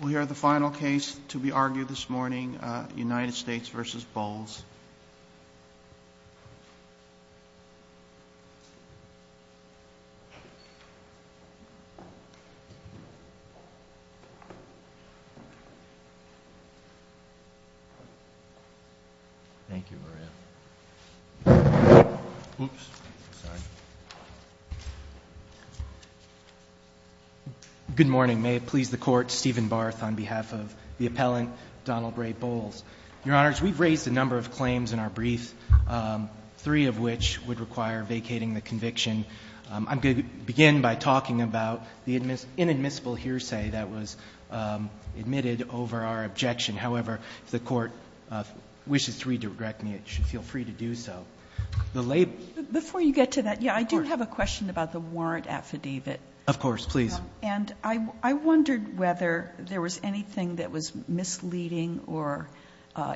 We'll hear the final case to be argued this morning, United States v. Bowles. Thank you, Maria. Oops. Sorry. Good morning. May it please the Court, Stephen Barth on behalf of the appellant, Donald Ray Bowles. Your Honors, we've raised a number of claims in our brief, three of which would require vacating the conviction. I'm going to begin by talking about the inadmissible hearsay that was admitted over our objection. However, if the Court wishes to redirect me, it should feel free to do so. Before you get to that, yeah, I do have a question about the warrant affidavit. Of course. Please. And I wondered whether there was anything that was misleading or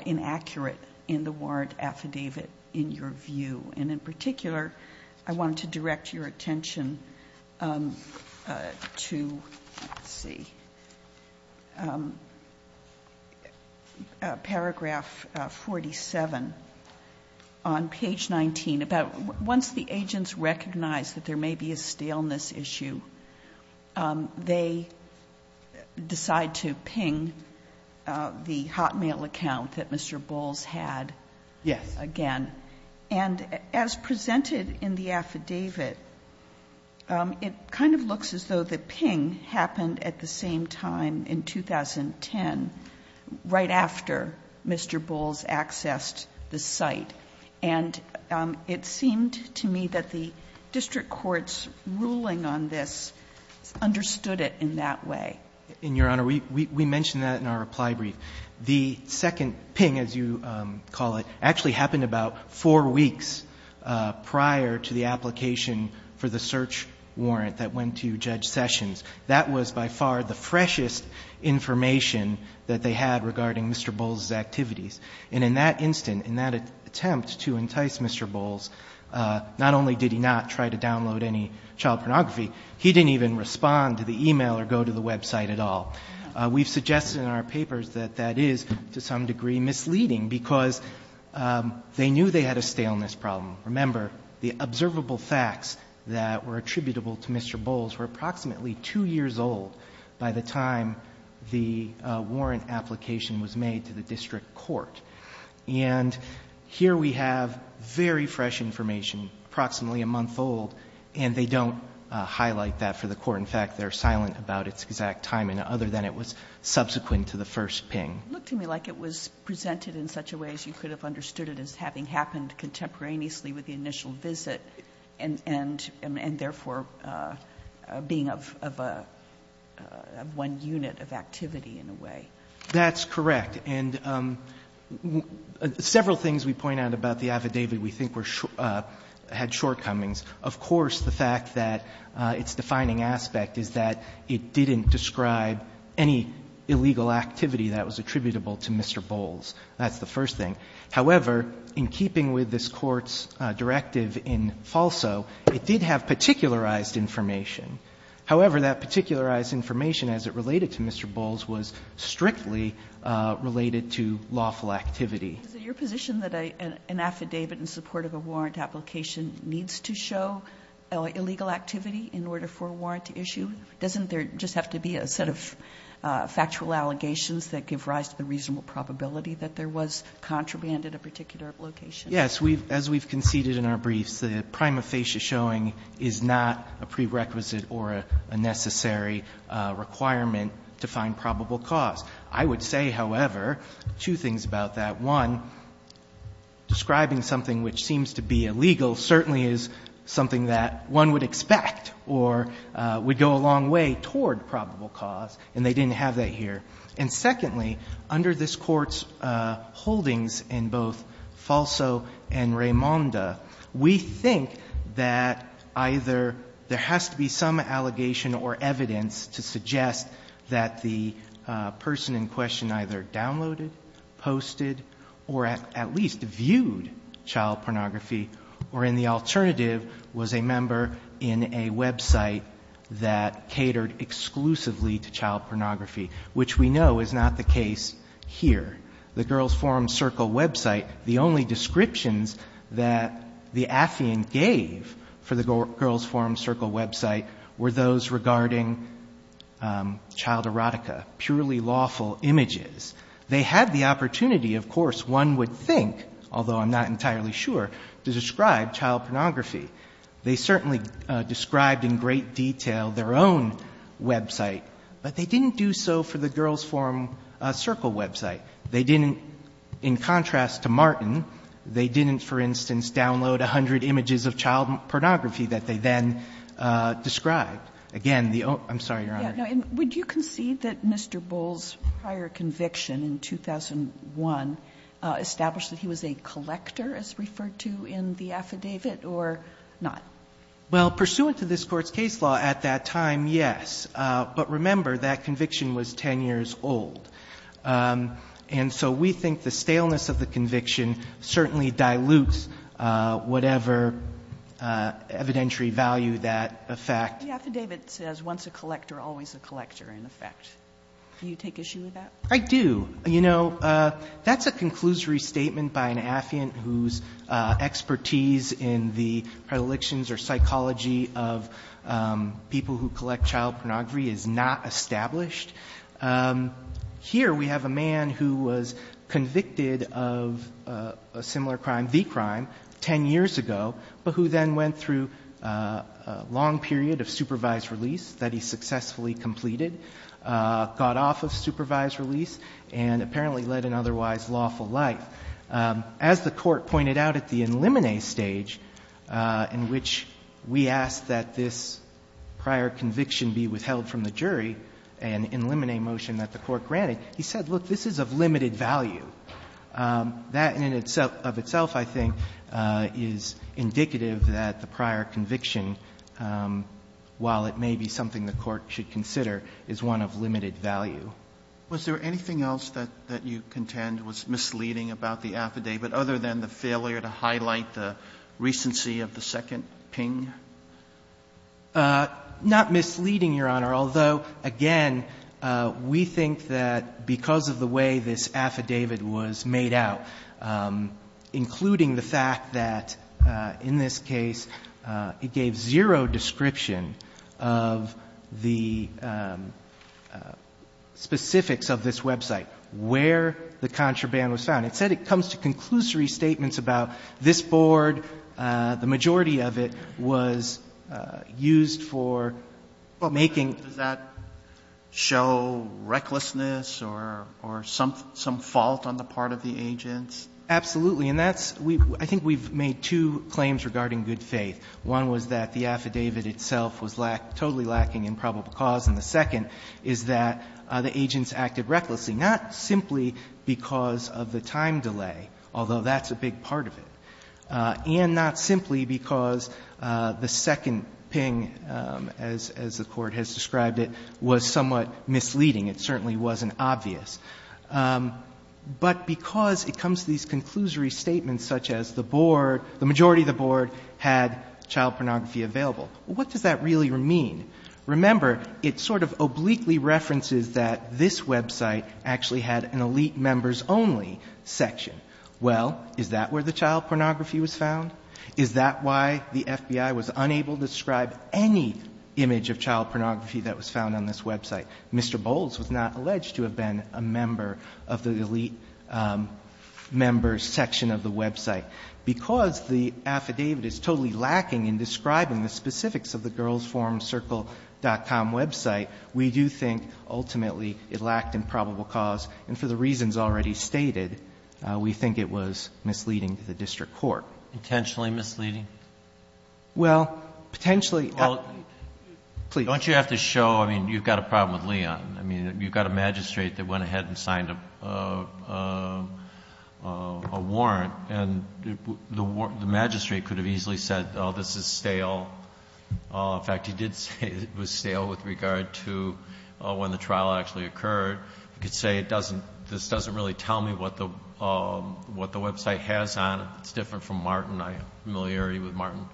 inaccurate in the warrant affidavit in your view. And in particular, I wanted to direct your attention to, let's see, paragraph 47 on page 19. About once the agents recognize that there may be a staleness issue, they decide to ping the Hotmail account that Mr. Bowles had. Yes. Again. And as presented in the affidavit, it kind of looks as though the ping happened at the same time in 2010, right after Mr. Bowles accessed the site. And it seemed to me that the district court's ruling on this understood it in that way. And, Your Honor, we mentioned that in our reply brief. The second ping, as you call it, actually happened about four weeks prior to the application for the search warrant that went to Judge Sessions. That was by far the freshest information that they had regarding Mr. Bowles' activities. And in that instant, in that attempt to entice Mr. Bowles, not only did he not try to download any child pornography, he didn't even respond to the e-mail or go to the website at all. We've suggested in our papers that that is, to some degree, misleading, because they knew they had a staleness problem. Remember, the observable facts that were attributable to Mr. Bowles were approximately two years old by the time the warrant application was made to the district court. And here we have very fresh information, approximately a month old, and they don't highlight that for the court. In fact, they're silent about its exact timing, other than it was subsequent to the first ping. It looked to me like it was presented in such a way as you could have understood it as having happened contemporaneously with the initial visit and therefore being of one unit of activity in a way. That's correct. And several things we point out about the affidavit we think had shortcomings. Of course, the fact that its defining aspect is that it didn't describe any illegal activity that was attributable to Mr. Bowles. That's the first thing. However, in keeping with this Court's directive in FALSO, it did have particularized information. However, that particularized information, as it related to Mr. Bowles, was strictly related to lawful activity. Is it your position that an affidavit in support of a warrant application needs to show illegal activity in order for a warrant to issue? Doesn't there just have to be a set of factual allegations that give rise to the reasonable probability that there was contraband at a particular location? Yes. As we've conceded in our briefs, the prima facie showing is not a prerequisite or a necessary requirement to find probable cause. I would say, however, two things about that. One, describing something which seems to be illegal certainly is something that one would expect or would go a long way toward probable cause, and they didn't have that here. And secondly, under this Court's holdings in both FALSO and Raimonda, we think that either there has to be some allegation or evidence to suggest that the person in question either downloaded, posted, or at least viewed child pornography, or in the alternative was a member in a website that catered exclusively to child pornography, which we know is not the case here. The Girls' Forum Circle website, the only descriptions that the affiant gave for the Girls' Forum Circle website were those regarding child erotica, purely lawful images. They had the opportunity, of course, one would think, although I'm not entirely sure, to describe child pornography. They certainly described in great detail their own website, but they didn't do so for the Girls' Forum Circle website. They didn't, in contrast to Martin, they didn't, for instance, download 100 images of child pornography that they then described. Again, the own – I'm sorry, Your Honor. Sotomayor, would you concede that Mr. Bull's prior conviction in 2001 established that he was a collector, as referred to in the affidavit, or not? Well, pursuant to this Court's case law at that time, yes. But remember, that conviction was 10 years old. And so we think the staleness of the conviction certainly dilutes whatever evidentiary value that effect. The affidavit says once a collector, always a collector, in effect. Do you take issue with that? I do. You know, that's a conclusory statement by an affiant whose expertise in the predilections or psychology of people who collect child pornography is not established. Here we have a man who was convicted of a similar crime, the crime, 10 years ago, but who then went through a long period of supervised release that he successfully completed, got off of supervised release, and apparently led an otherwise lawful life. As the Court pointed out at the in limine stage, in which we asked that this prior conviction be withheld from the jury, an in limine motion that the Court granted, he said, look, this is of limited value. That in and of itself, I think, is indicative that the prior conviction, while it may be something the Court should consider, is one of limited value. Was there anything else that you contend was misleading about the affidavit other than the failure to highlight the recency of the second ping? Not misleading, Your Honor, although, again, we think that because of the way this affidavit was made out, including the fact that in this case it gave zero description of the specifics of this website, where the contraband was found, it said it comes to conclusory statements about this board, the majority of it was used for making Does that show recklessness or some fault on the part of the agents? Absolutely. And that's we've I think we've made two claims regarding good faith. One was that the affidavit itself was totally lacking in probable cause. And the second is that the agents acted recklessly, not simply because of the time delay, although that's a big part of it, and not simply because the second ping, as the Court has described it, was somewhat misleading. It certainly wasn't obvious. But because it comes to these conclusory statements such as the board, the majority of the board had child pornography available. What does that really mean? Remember, it sort of obliquely references that this website actually had an elite members only section. Well, is that where the child pornography was found? Is that why the FBI was unable to describe any image of child pornography that was found on this website? Mr. Bowles was not alleged to have been a member of the elite members section of the website. Because the affidavit is totally lacking in describing the specifics of the girlsforumcircle.com website, we do think ultimately it lacked in probable cause. And for the reasons already stated, we think it was misleading to the district court. Intentionally misleading? Well, potentially. Well, don't you have to show, I mean, you've got a problem with Leon. I mean, you've got a magistrate that went ahead and signed a warrant. And the magistrate could have easily said, oh, this is stale. In fact, he did say it was stale with regard to when the trial actually occurred. He could say, this doesn't really tell me what the website has on it. It's different from Martin. I have familiarity with Martin.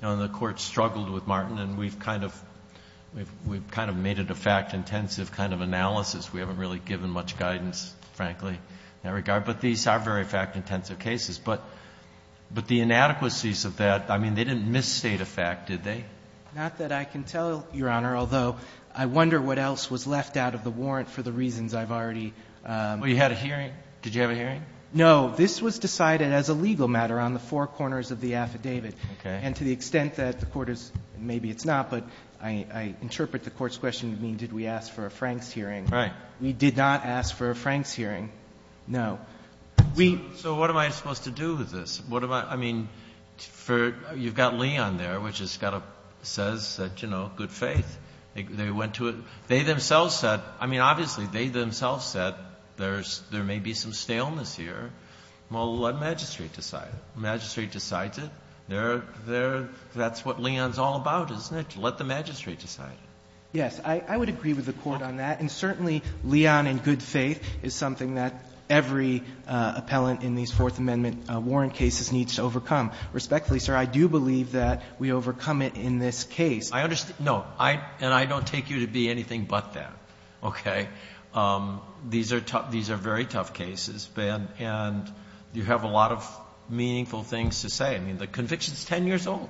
And the court struggled with Martin. And we've kind of made it a fact-intensive kind of analysis. We haven't really given much guidance, frankly, in that regard. But these are very fact-intensive cases. But the inadequacies of that, I mean, they didn't misstate a fact, did they? Not that I can tell, Your Honor, although I wonder what else was left out of the warrant for the reasons I've already. Well, you had a hearing. Did you have a hearing? No. This was decided as a legal matter on the four corners of the affidavit. Okay. And to the extent that the court has, maybe it's not, but I interpret the court's question as did we ask for a Franks hearing. Right. We did not ask for a Franks hearing. No. So what am I supposed to do with this? I mean, you've got Leon there, which says that, you know, good faith. They went to it. They themselves said, I mean, obviously they themselves said there may be some staleness here. Well, let the magistrate decide. The magistrate decides it. That's what Leon's all about, isn't it, to let the magistrate decide. Yes. I would agree with the court on that. And certainly Leon and good faith is something that every appellant in these Fourth Amendment warrant cases needs to overcome. Respectfully, sir, I do believe that we overcome it in this case. I understand. No. And I don't take you to be anything but that. Okay. These are tough. These are very tough cases, Ben, and you have a lot of meaningful things to say. I mean, the conviction is 10 years old.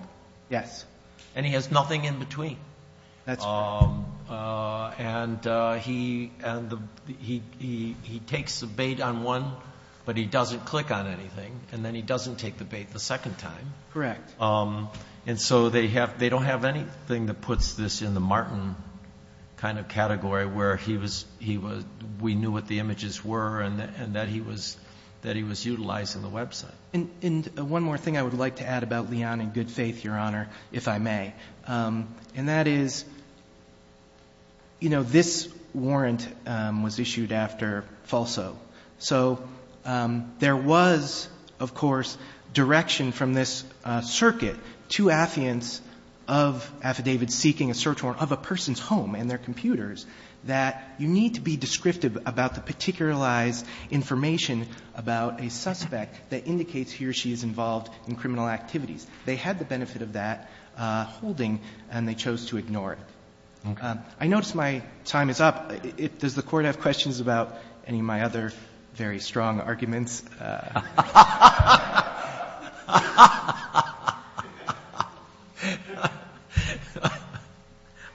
Yes. And he has nothing in between. That's right. And he takes the bait on one, but he doesn't click on anything. And then he doesn't take the bait the second time. Correct. And so they don't have anything that puts this in the Martin kind of category where we knew what the images were and that he was utilizing the website. And one more thing I would like to add about Leon and good faith, Your Honor, if I may. And that is, you know, this warrant was issued after falso. So there was, of course, direction from this circuit to affidavits of affidavits seeking a search warrant of a person's home and their computers that you need to be descriptive about the particularized information about a suspect that indicates he or she is involved in criminal activities. They had the benefit of that holding and they chose to ignore it. Okay. I notice my time is up. Does the Court have questions about any of my other very strong arguments?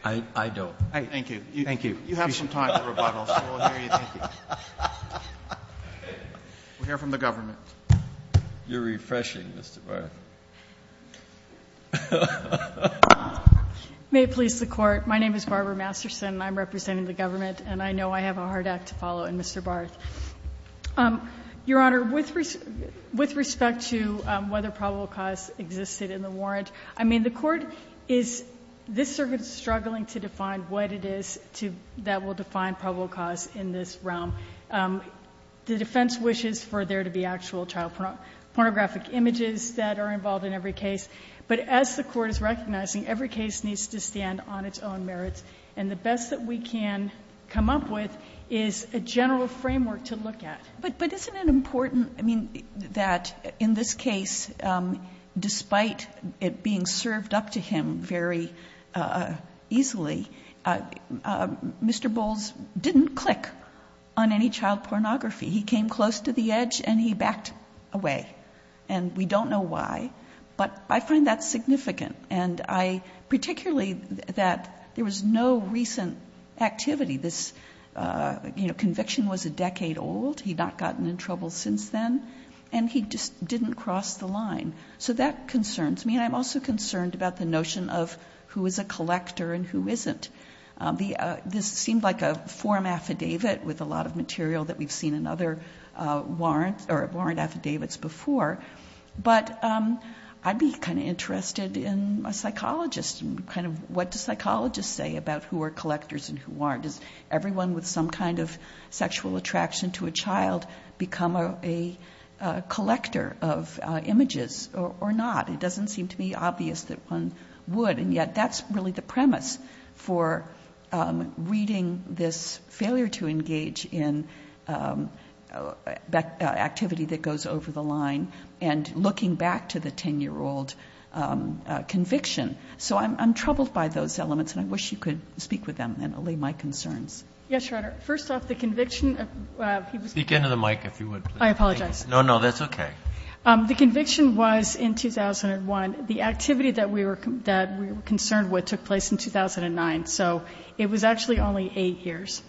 I don't. Thank you. Thank you. You have some time for rebuttals. We'll hear from the government. You're refreshing, Mr. Barth. May it please the Court. My name is Barbara Masterson and I'm representing the government and I know I have a hard act to follow in Mr. Barth. Your Honor, with respect to whether probable cause existed in the warrant, I mean, the Court is, this circuit is struggling to define what it is that will define probable cause in this realm. The defense wishes for there to be actual child pornographic images that are involved in every case. But as the Court is recognizing, every case needs to stand on its own merits. And the best that we can come up with is a general framework to look at. But isn't it important, I mean, that in this case, despite it being served up to him very easily, Mr. Bowles didn't click on any child pornography. He came close to the edge and he backed away. And we don't know why. But I find that significant. And I particularly that there was no recent activity. This conviction was a decade old. He'd not gotten in trouble since then. And he just didn't cross the line. So that concerns me. And I'm also concerned about the notion of who is a collector and who isn't. This seemed like a form affidavit with a lot of material that we've seen in other warrant affidavits before. But I'd be kind of interested in a psychologist and kind of what do psychologists say about who are collectors and who aren't. Does everyone with some kind of sexual attraction to a child become a collector of images or not? It doesn't seem to be obvious that one would. And yet that's really the premise for reading this failure to engage in activity that goes over the line and looking back to the 10-year-old conviction. So I'm troubled by those elements, and I wish you could speak with them and allay my concerns. Yes, Your Honor. First off, the conviction of he was... Speak into the mic if you would, please. I apologize. No, no, that's okay. The conviction was in 2001. The activity that we were concerned with took place in 2009. So it was actually only 8 years.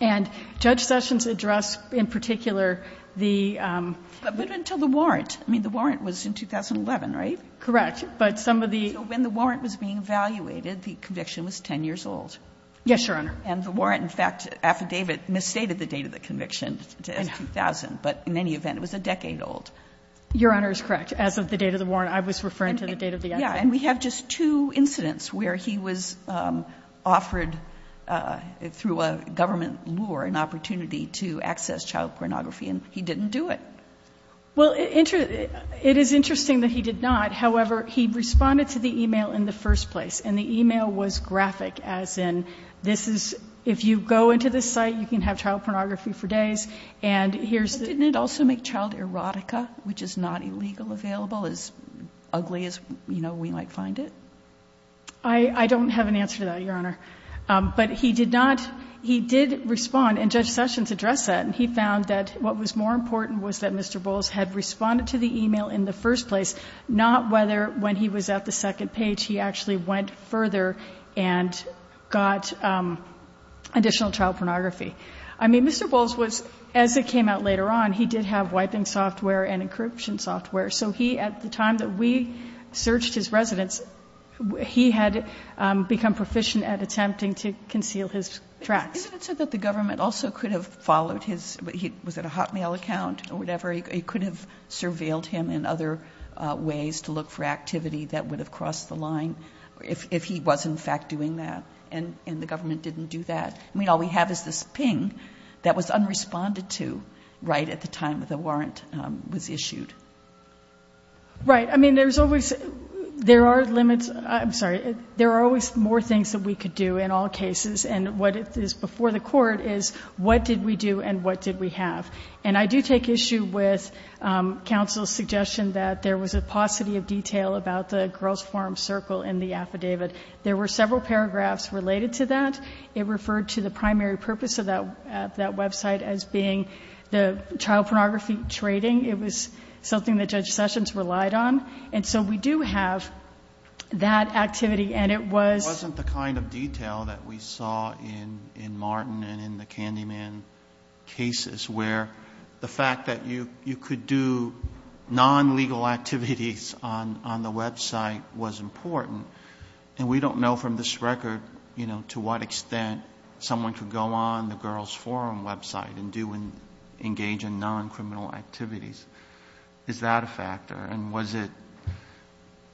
And Judge Sessions addressed in particular the... But until the warrant. I mean, the warrant was in 2011, right? Correct. But some of the... So when the warrant was being evaluated, the conviction was 10 years old. Yes, Your Honor. And the warrant, in fact, affidavit, misstated the date of the conviction to 2000. But in any event, it was a decade old. Your Honor is correct. As of the date of the warrant, I was referring to the date of the... Yeah, and we have just two incidents where he was offered through a government lure an opportunity to access child pornography, and he didn't do it. Well, it is interesting that he did not. However, he responded to the e-mail in the first place, and the e-mail was graphic, as in, this is... If you go into this site, you can have child pornography for days, and here's... But didn't it also make child erotica, which is not illegal, available, as ugly as, you know, we might find it? I don't have an answer to that, Your Honor. But he did not... He did respond, and Judge Sessions addressed that, and he found that what was more important was that Mr. Bowles had responded to the e-mail in the first place, not whether, when he was at the second page, he actually went further and got additional child pornography. I mean, Mr. Bowles was, as it came out later on, he did have wiping software and encryption software. So he, at the time that we searched his residence, he had become proficient at attempting to conceal his tracks. Isn't it so that the government also could have followed his... Was it a Hotmail account or whatever? It could have surveilled him in other ways to look for activity that would have crossed the line if he was, in fact, doing that, and the government didn't do that? I mean, all we have is this ping that was unresponded to right at the time that the warrant was issued. Right. I mean, there's always... There are limits... I'm sorry. There are always more things that we could do in all cases, and what is before the court is, what did we do and what did we have? And I do take issue with counsel's suggestion that there was a paucity of detail about the girls' forum circle in the affidavit. There were several paragraphs related to that. It referred to the primary purpose of that website as being the child pornography trading. It was something that Judge Sessions relied on. And so we do have that activity, and it was... It wasn't the kind of detail that we saw in Martin and in the Candyman cases, where the fact that you could do non-legal activities on the website was important. And we don't know from this record, you know, to what extent someone could go on the girls' forum website and engage in non-criminal activities. Is that a factor? And was it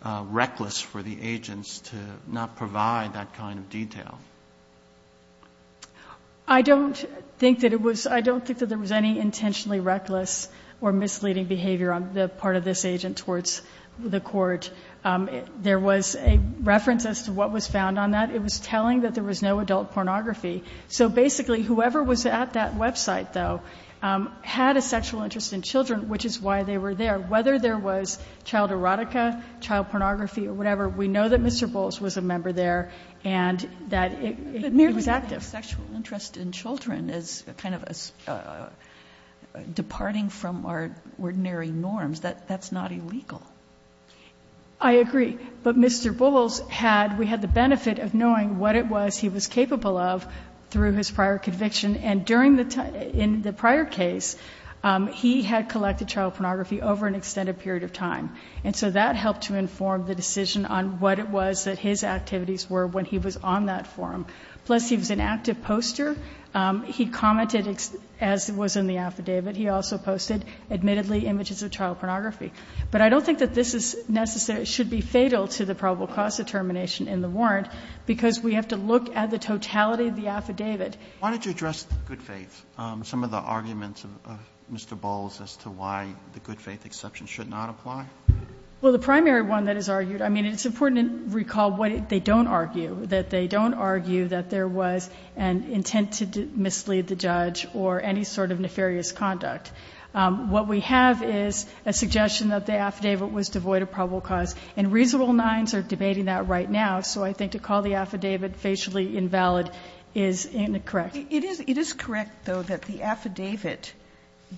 reckless for the agents to not provide that kind of detail? I don't think that it was... I don't think that there was any intentionally reckless or misleading behavior on the part of this agent towards the court. There was a reference as to what was found on that. It was telling that there was no adult pornography. So basically, whoever was at that website, though, had a sexual interest in children, which is why they were there. Whether there was child erotica, child pornography, or whatever, we know that Mr. Bull's sexual interest in children is kind of departing from our ordinary norms. That's not illegal. I agree. But Mr. Bull's had... We had the benefit of knowing what it was he was capable of through his prior conviction. And in the prior case, he had collected child pornography over an extended period of time. And so that helped to inform the decision on what it was that his activities were when he was on that forum. Plus, he was an active poster. He commented, as was in the affidavit, he also posted, admittedly, images of child pornography. But I don't think that this is necessary... should be fatal to the probable cause determination in the warrant, because we have to look at the totality of the affidavit. Why don't you address the good faith, some of the arguments of Mr. Bull's as to why the good faith exception should not apply? Well, the primary one that is argued... I mean, it's important to recall what they don't argue, that they don't argue that there was an intent to mislead the judge or any sort of nefarious conduct. What we have is a suggestion that the affidavit was devoid of probable cause, and reasonable nines are debating that right now. So I think to call the affidavit facially invalid is incorrect. It is correct, though, that the affidavit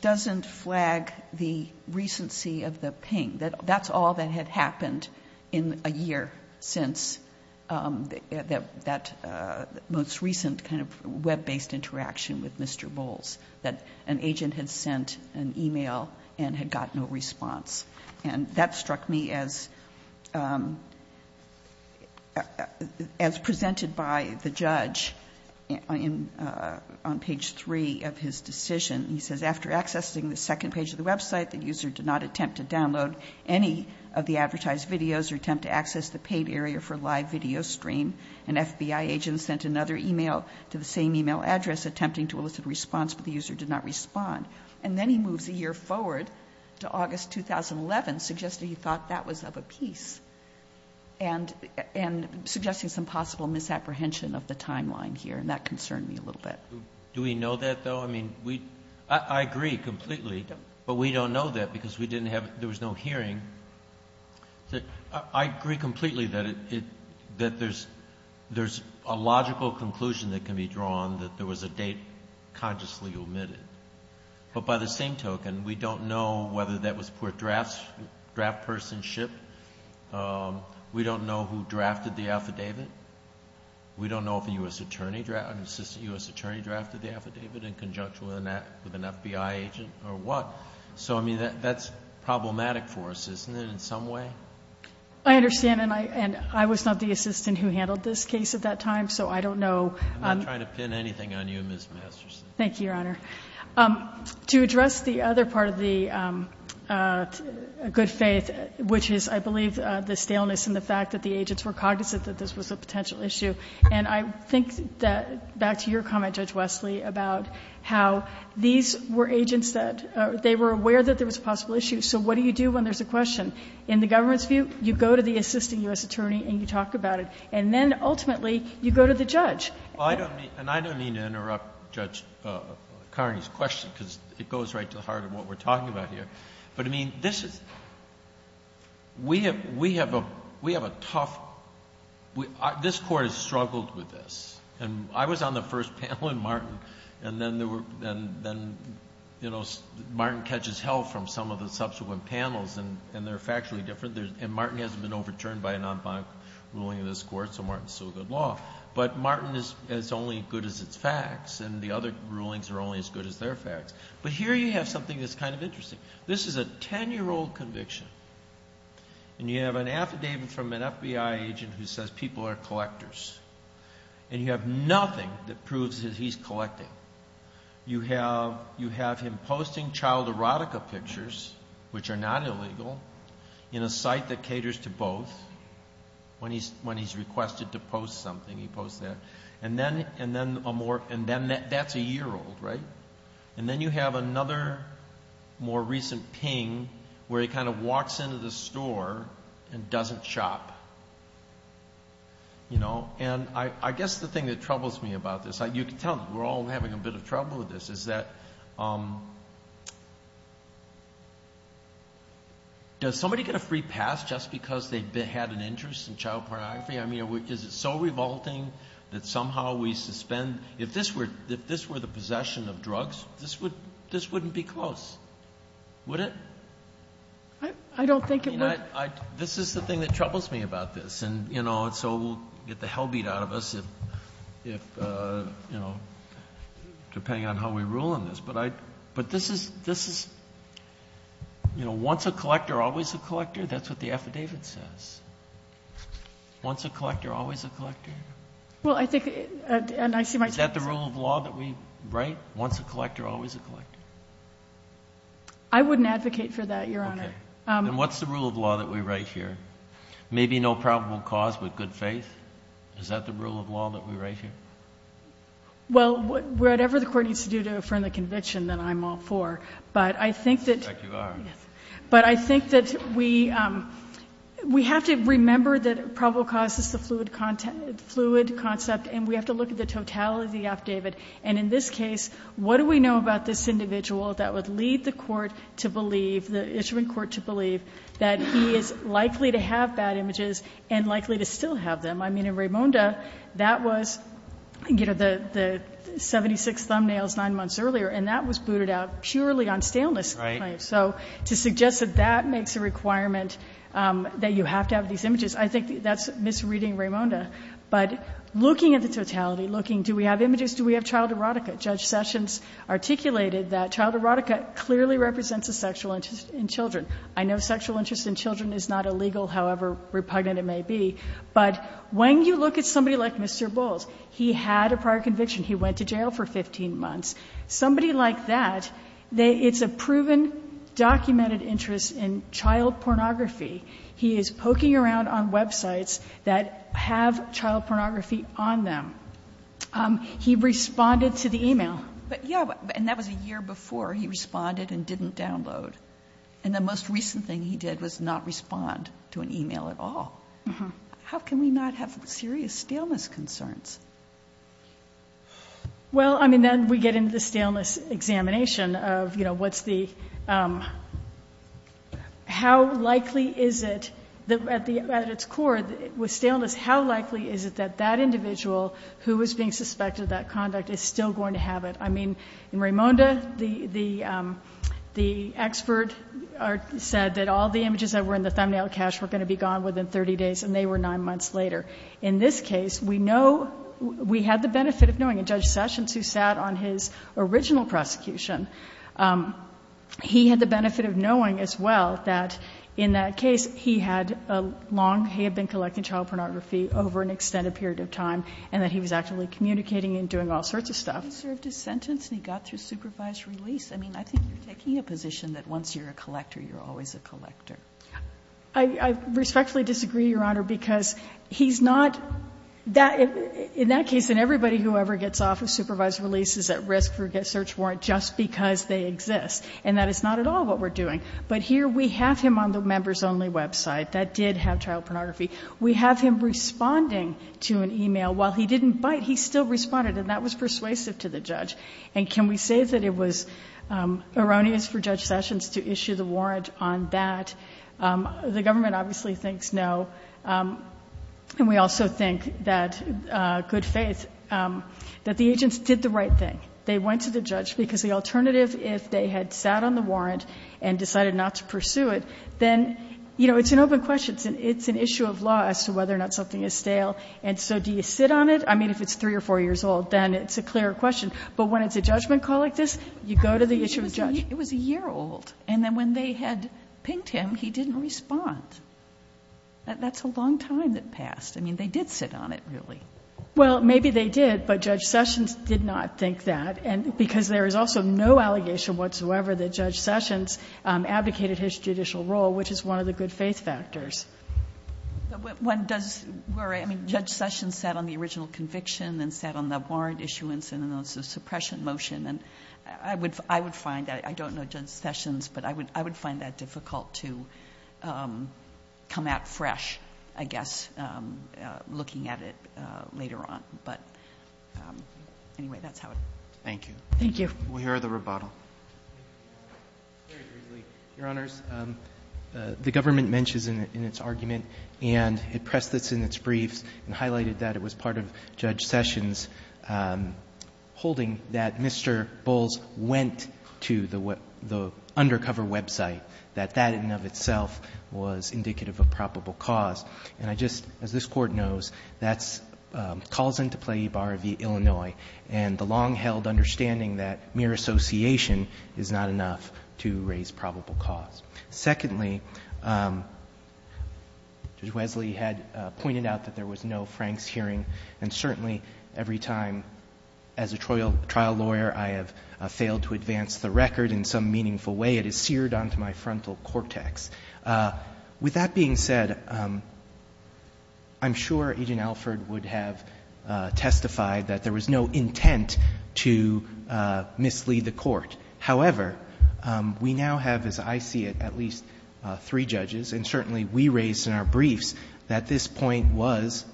doesn't flag the recency of the ping, that that's all that had happened in a year since that most recent kind of web-based interaction with Mr. Bulls, that an agent had sent an e-mail and had gotten a response. And that struck me as presented by the judge on page 3 of his decision. He says, after accessing the second page of the website, the user did not attempt to download any of the advertised videos or attempt to access the paid area for live video stream. An FBI agent sent another e-mail to the same e-mail address, attempting to elicit a response, but the user did not respond. And then he moves a year forward to August 2011, suggesting he thought that was of a piece and suggesting some possible misapprehension of the timeline here. And that concerned me a little bit. Do we know that, though? I mean, I agree completely, but we don't know that because there was no hearing. I agree completely that there's a logical conclusion that can be drawn that there was a date consciously omitted. But by the same token, we don't know whether that was poor draftspersonship. We don't know who drafted the affidavit. We don't know if an assistant U.S. attorney drafted the affidavit in conjunction with an FBI agent or what. So, I mean, that's problematic for us, isn't it, in some way? I understand. And I was not the assistant who handled this case at that time, so I don't know. I'm not trying to pin anything on you, Ms. Masterson. Thank you, Your Honor. To address the other part of the good faith, which is, I believe, the staleness and the fact that the agents were cognizant that this was a potential issue. And I think that, back to your comment, Judge Wesley, about how these were agents that they were aware that there was a possible issue. So what do you do when there's a question? In the government's view, you go to the assistant U.S. attorney and you talk about it, and then, ultimately, you go to the judge. Well, I don't mean to interrupt Judge Carney's question because it goes right to the heart of what we're talking about here. But, I mean, this is—we have a tough—this Court has struggled with this. And I was on the first panel, and Martin, and then, you know, Martin catches hell from some of the subsequent panels, and they're factually different. And Martin hasn't been overturned by a non-binary ruling in this Court, so Martin is still good law. But Martin is only as good as its facts, and the other rulings are only as good as their facts. But here you have something that's kind of interesting. This is a 10-year-old conviction, and you have an affidavit from an FBI agent who says people are collectors. And you have nothing that proves that he's collecting. You have him posting child erotica pictures, which are not illegal, in a site that caters to both. When he's requested to post something, he posts that. And then that's a year old, right? And then you have another more recent ping where he kind of walks into the store and doesn't shop. You know? And I guess the thing that troubles me about this—you can tell we're all having a bit of trouble with this—is that does somebody get a free pass just because they had an interest in child pornography? I mean, is it so revolting that somehow we suspend—if this were the possession of drugs, this wouldn't be close, would it? I don't think it would. I mean, this is the thing that troubles me about this. And so we'll get the hell beat out of us, depending on how we rule on this. But this is—once a collector, always a collector? That's what the affidavit says. Once a collector, always a collector? Well, I think—and I see myself— Right. Once a collector, always a collector? I wouldn't advocate for that, Your Honor. Okay. Then what's the rule of law that we write here? Maybe no probable cause, but good faith? Is that the rule of law that we write here? Well, whatever the Court needs to do to affirm the conviction, then I'm all for. But I think that— In fact, you are. Yes. But I think that we have to remember that probable cause is the fluid concept, and we have to look at the totality of the affidavit. And in this case, what do we know about this individual that would lead the court to believe, the instrument court to believe, that he is likely to have bad images and likely to still have them? I mean, in Raimonda, that was, you know, the 76 thumbnails 9 months earlier, and that was booted out purely on staleness claims. Right. So to suggest that that makes a requirement that you have to have these images, I think that's misreading Raimonda. But looking at the totality, looking, do we have images? Do we have child erotica? Judge Sessions articulated that child erotica clearly represents a sexual interest in children. I know sexual interest in children is not illegal, however repugnant it may be. But when you look at somebody like Mr. Bowles, he had a prior conviction. He went to jail for 15 months. Somebody like that, it's a proven documented interest in child pornography. He is poking around on websites that have child pornography on them. He responded to the e-mail. But, yeah, and that was a year before he responded and didn't download. And the most recent thing he did was not respond to an e-mail at all. How can we not have serious staleness concerns? Well, I mean, then we get into the staleness examination of, you know, what's the, how likely is it, at its core, with staleness, how likely is it that that individual who is being suspected of that conduct is still going to have it? I mean, in Raimonda, the expert said that all the images that were in the thumbnail cache were going to be gone within 30 days, and they were 9 months later. In this case, we know, we had the benefit of knowing, and Judge Sessions, who sat on his original prosecution, he had the benefit of knowing, as well, that in that case, he had a long, he had been collecting child pornography over an extended period of time, and that he was actively communicating and doing all sorts of stuff. And he served his sentence, and he got through supervised release. I mean, I think you're taking a position that once you're a collector, you're always a collector. I respectfully disagree, Your Honor, because he's not, in that case, and everybody who ever gets off of supervised release is at risk for a search warrant just because they exist. And that is not at all what we're doing. But here, we have him on the members-only website that did have child pornography. We have him responding to an email. While he didn't bite, he still responded, and that was persuasive to the judge. And can we say that it was erroneous for Judge Sessions to issue the warrant on that? The government obviously thinks no. And we also think that, good faith, that the agents did the right thing. They went to the judge, because the alternative, if they had sat on the warrant and decided not to pursue it, then, you know, it's an open question. It's an issue of law as to whether or not something is stale. And so do you sit on it? I mean, if it's 3 or 4 years old, then it's a clearer question. But when it's a judgment call like this, you go to the issue of the judge. It was a year old. And then when they had pinged him, he didn't respond. That's a long time that passed. I mean, they did sit on it, really. Well, maybe they did, but Judge Sessions did not think that, because there is also no allegation whatsoever that Judge Sessions advocated his judicial role, which is one of the good faith factors. One does worry. I mean, Judge Sessions sat on the original conviction and sat on the warrant issuance and the suppression motion. And I would find that. I don't know Judge Sessions, but I would find that difficult to come at fresh, I guess, looking at it later on. But anyway, that's how it is. Thank you. Thank you. We'll hear the rebuttal. Your Honors, the government mentions in its argument and it pressed this in its briefs and highlighted that it was part of Judge Sessions holding that Mr. Bowles went to the undercover website, that that in and of itself was indicative of probable cause. And I just, as this Court knows, that calls into play Ibarra v. Illinois and the long-held understanding that mere association is not enough to raise probable cause. Secondly, Judge Wesley had pointed out that there was no Franks hearing, and certainly every time as a trial lawyer I have failed to advance the record in some meaningful way, it is seared onto my frontal cortex. With that being said, I'm sure Agent Alford would have testified that there was no intent to mislead the Court. However, we now have, as I see it, at least three judges, and certainly we raised this in our briefs, that this point was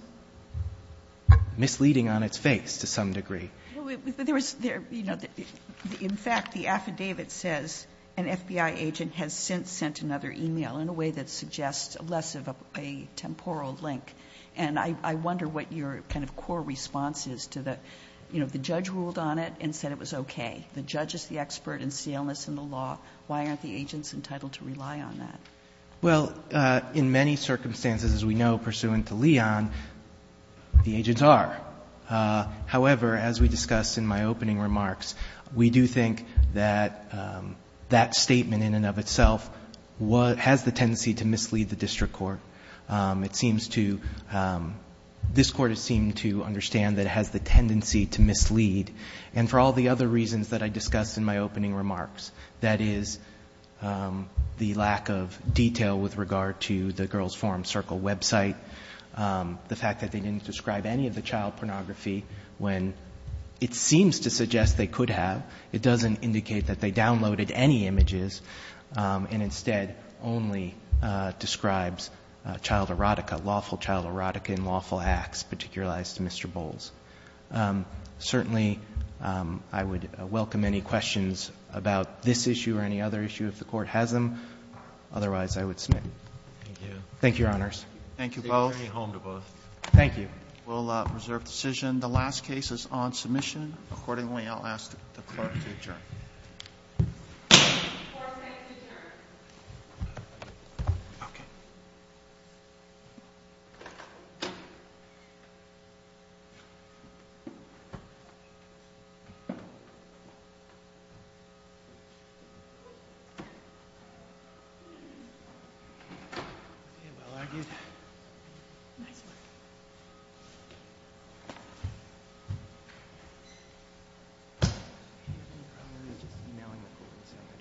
misleading on its face to some degree. There was, you know, in fact, the affidavit says an FBI agent has since sent another e-mail in a way that suggests less of a temporal link. And I wonder what your kind of core response is to the, you know, the judge ruled on it and said it was okay. The judge is the expert in sealness in the law. Why aren't the agents entitled to rely on that? Well, in many circumstances, as we know, pursuant to Leon, the agents are. However, as we discussed in my opening remarks, we do think that that statement in and of itself has the tendency to mislead the district court. It seems to ‑‑ this Court has seemed to understand that it has the tendency to mislead, and for all the other reasons that I discussed in my opening remarks, that is the lack of detail with regard to the Girls Forum Circle website, the fact that they didn't describe any of the child pornography when it seems to suggest they could have. It doesn't indicate that they downloaded any images, and instead only describes child erotica, lawful child erotica in lawful acts, particularized to Mr. Bowles. Certainly, I would welcome any questions about this issue or any other issue if the Court has them. Otherwise, I would submit. Thank you, Your Honors. Thank you both. Thank you. We'll reserve decision. The last case is on submission. Accordingly, I'll ask the Court to adjourn. Four seconds to adjourn.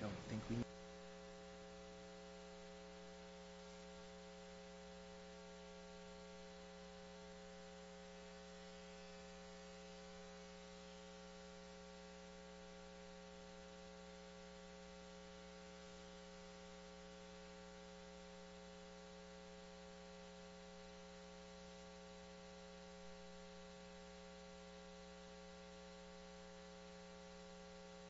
I don't think we need to ‑‑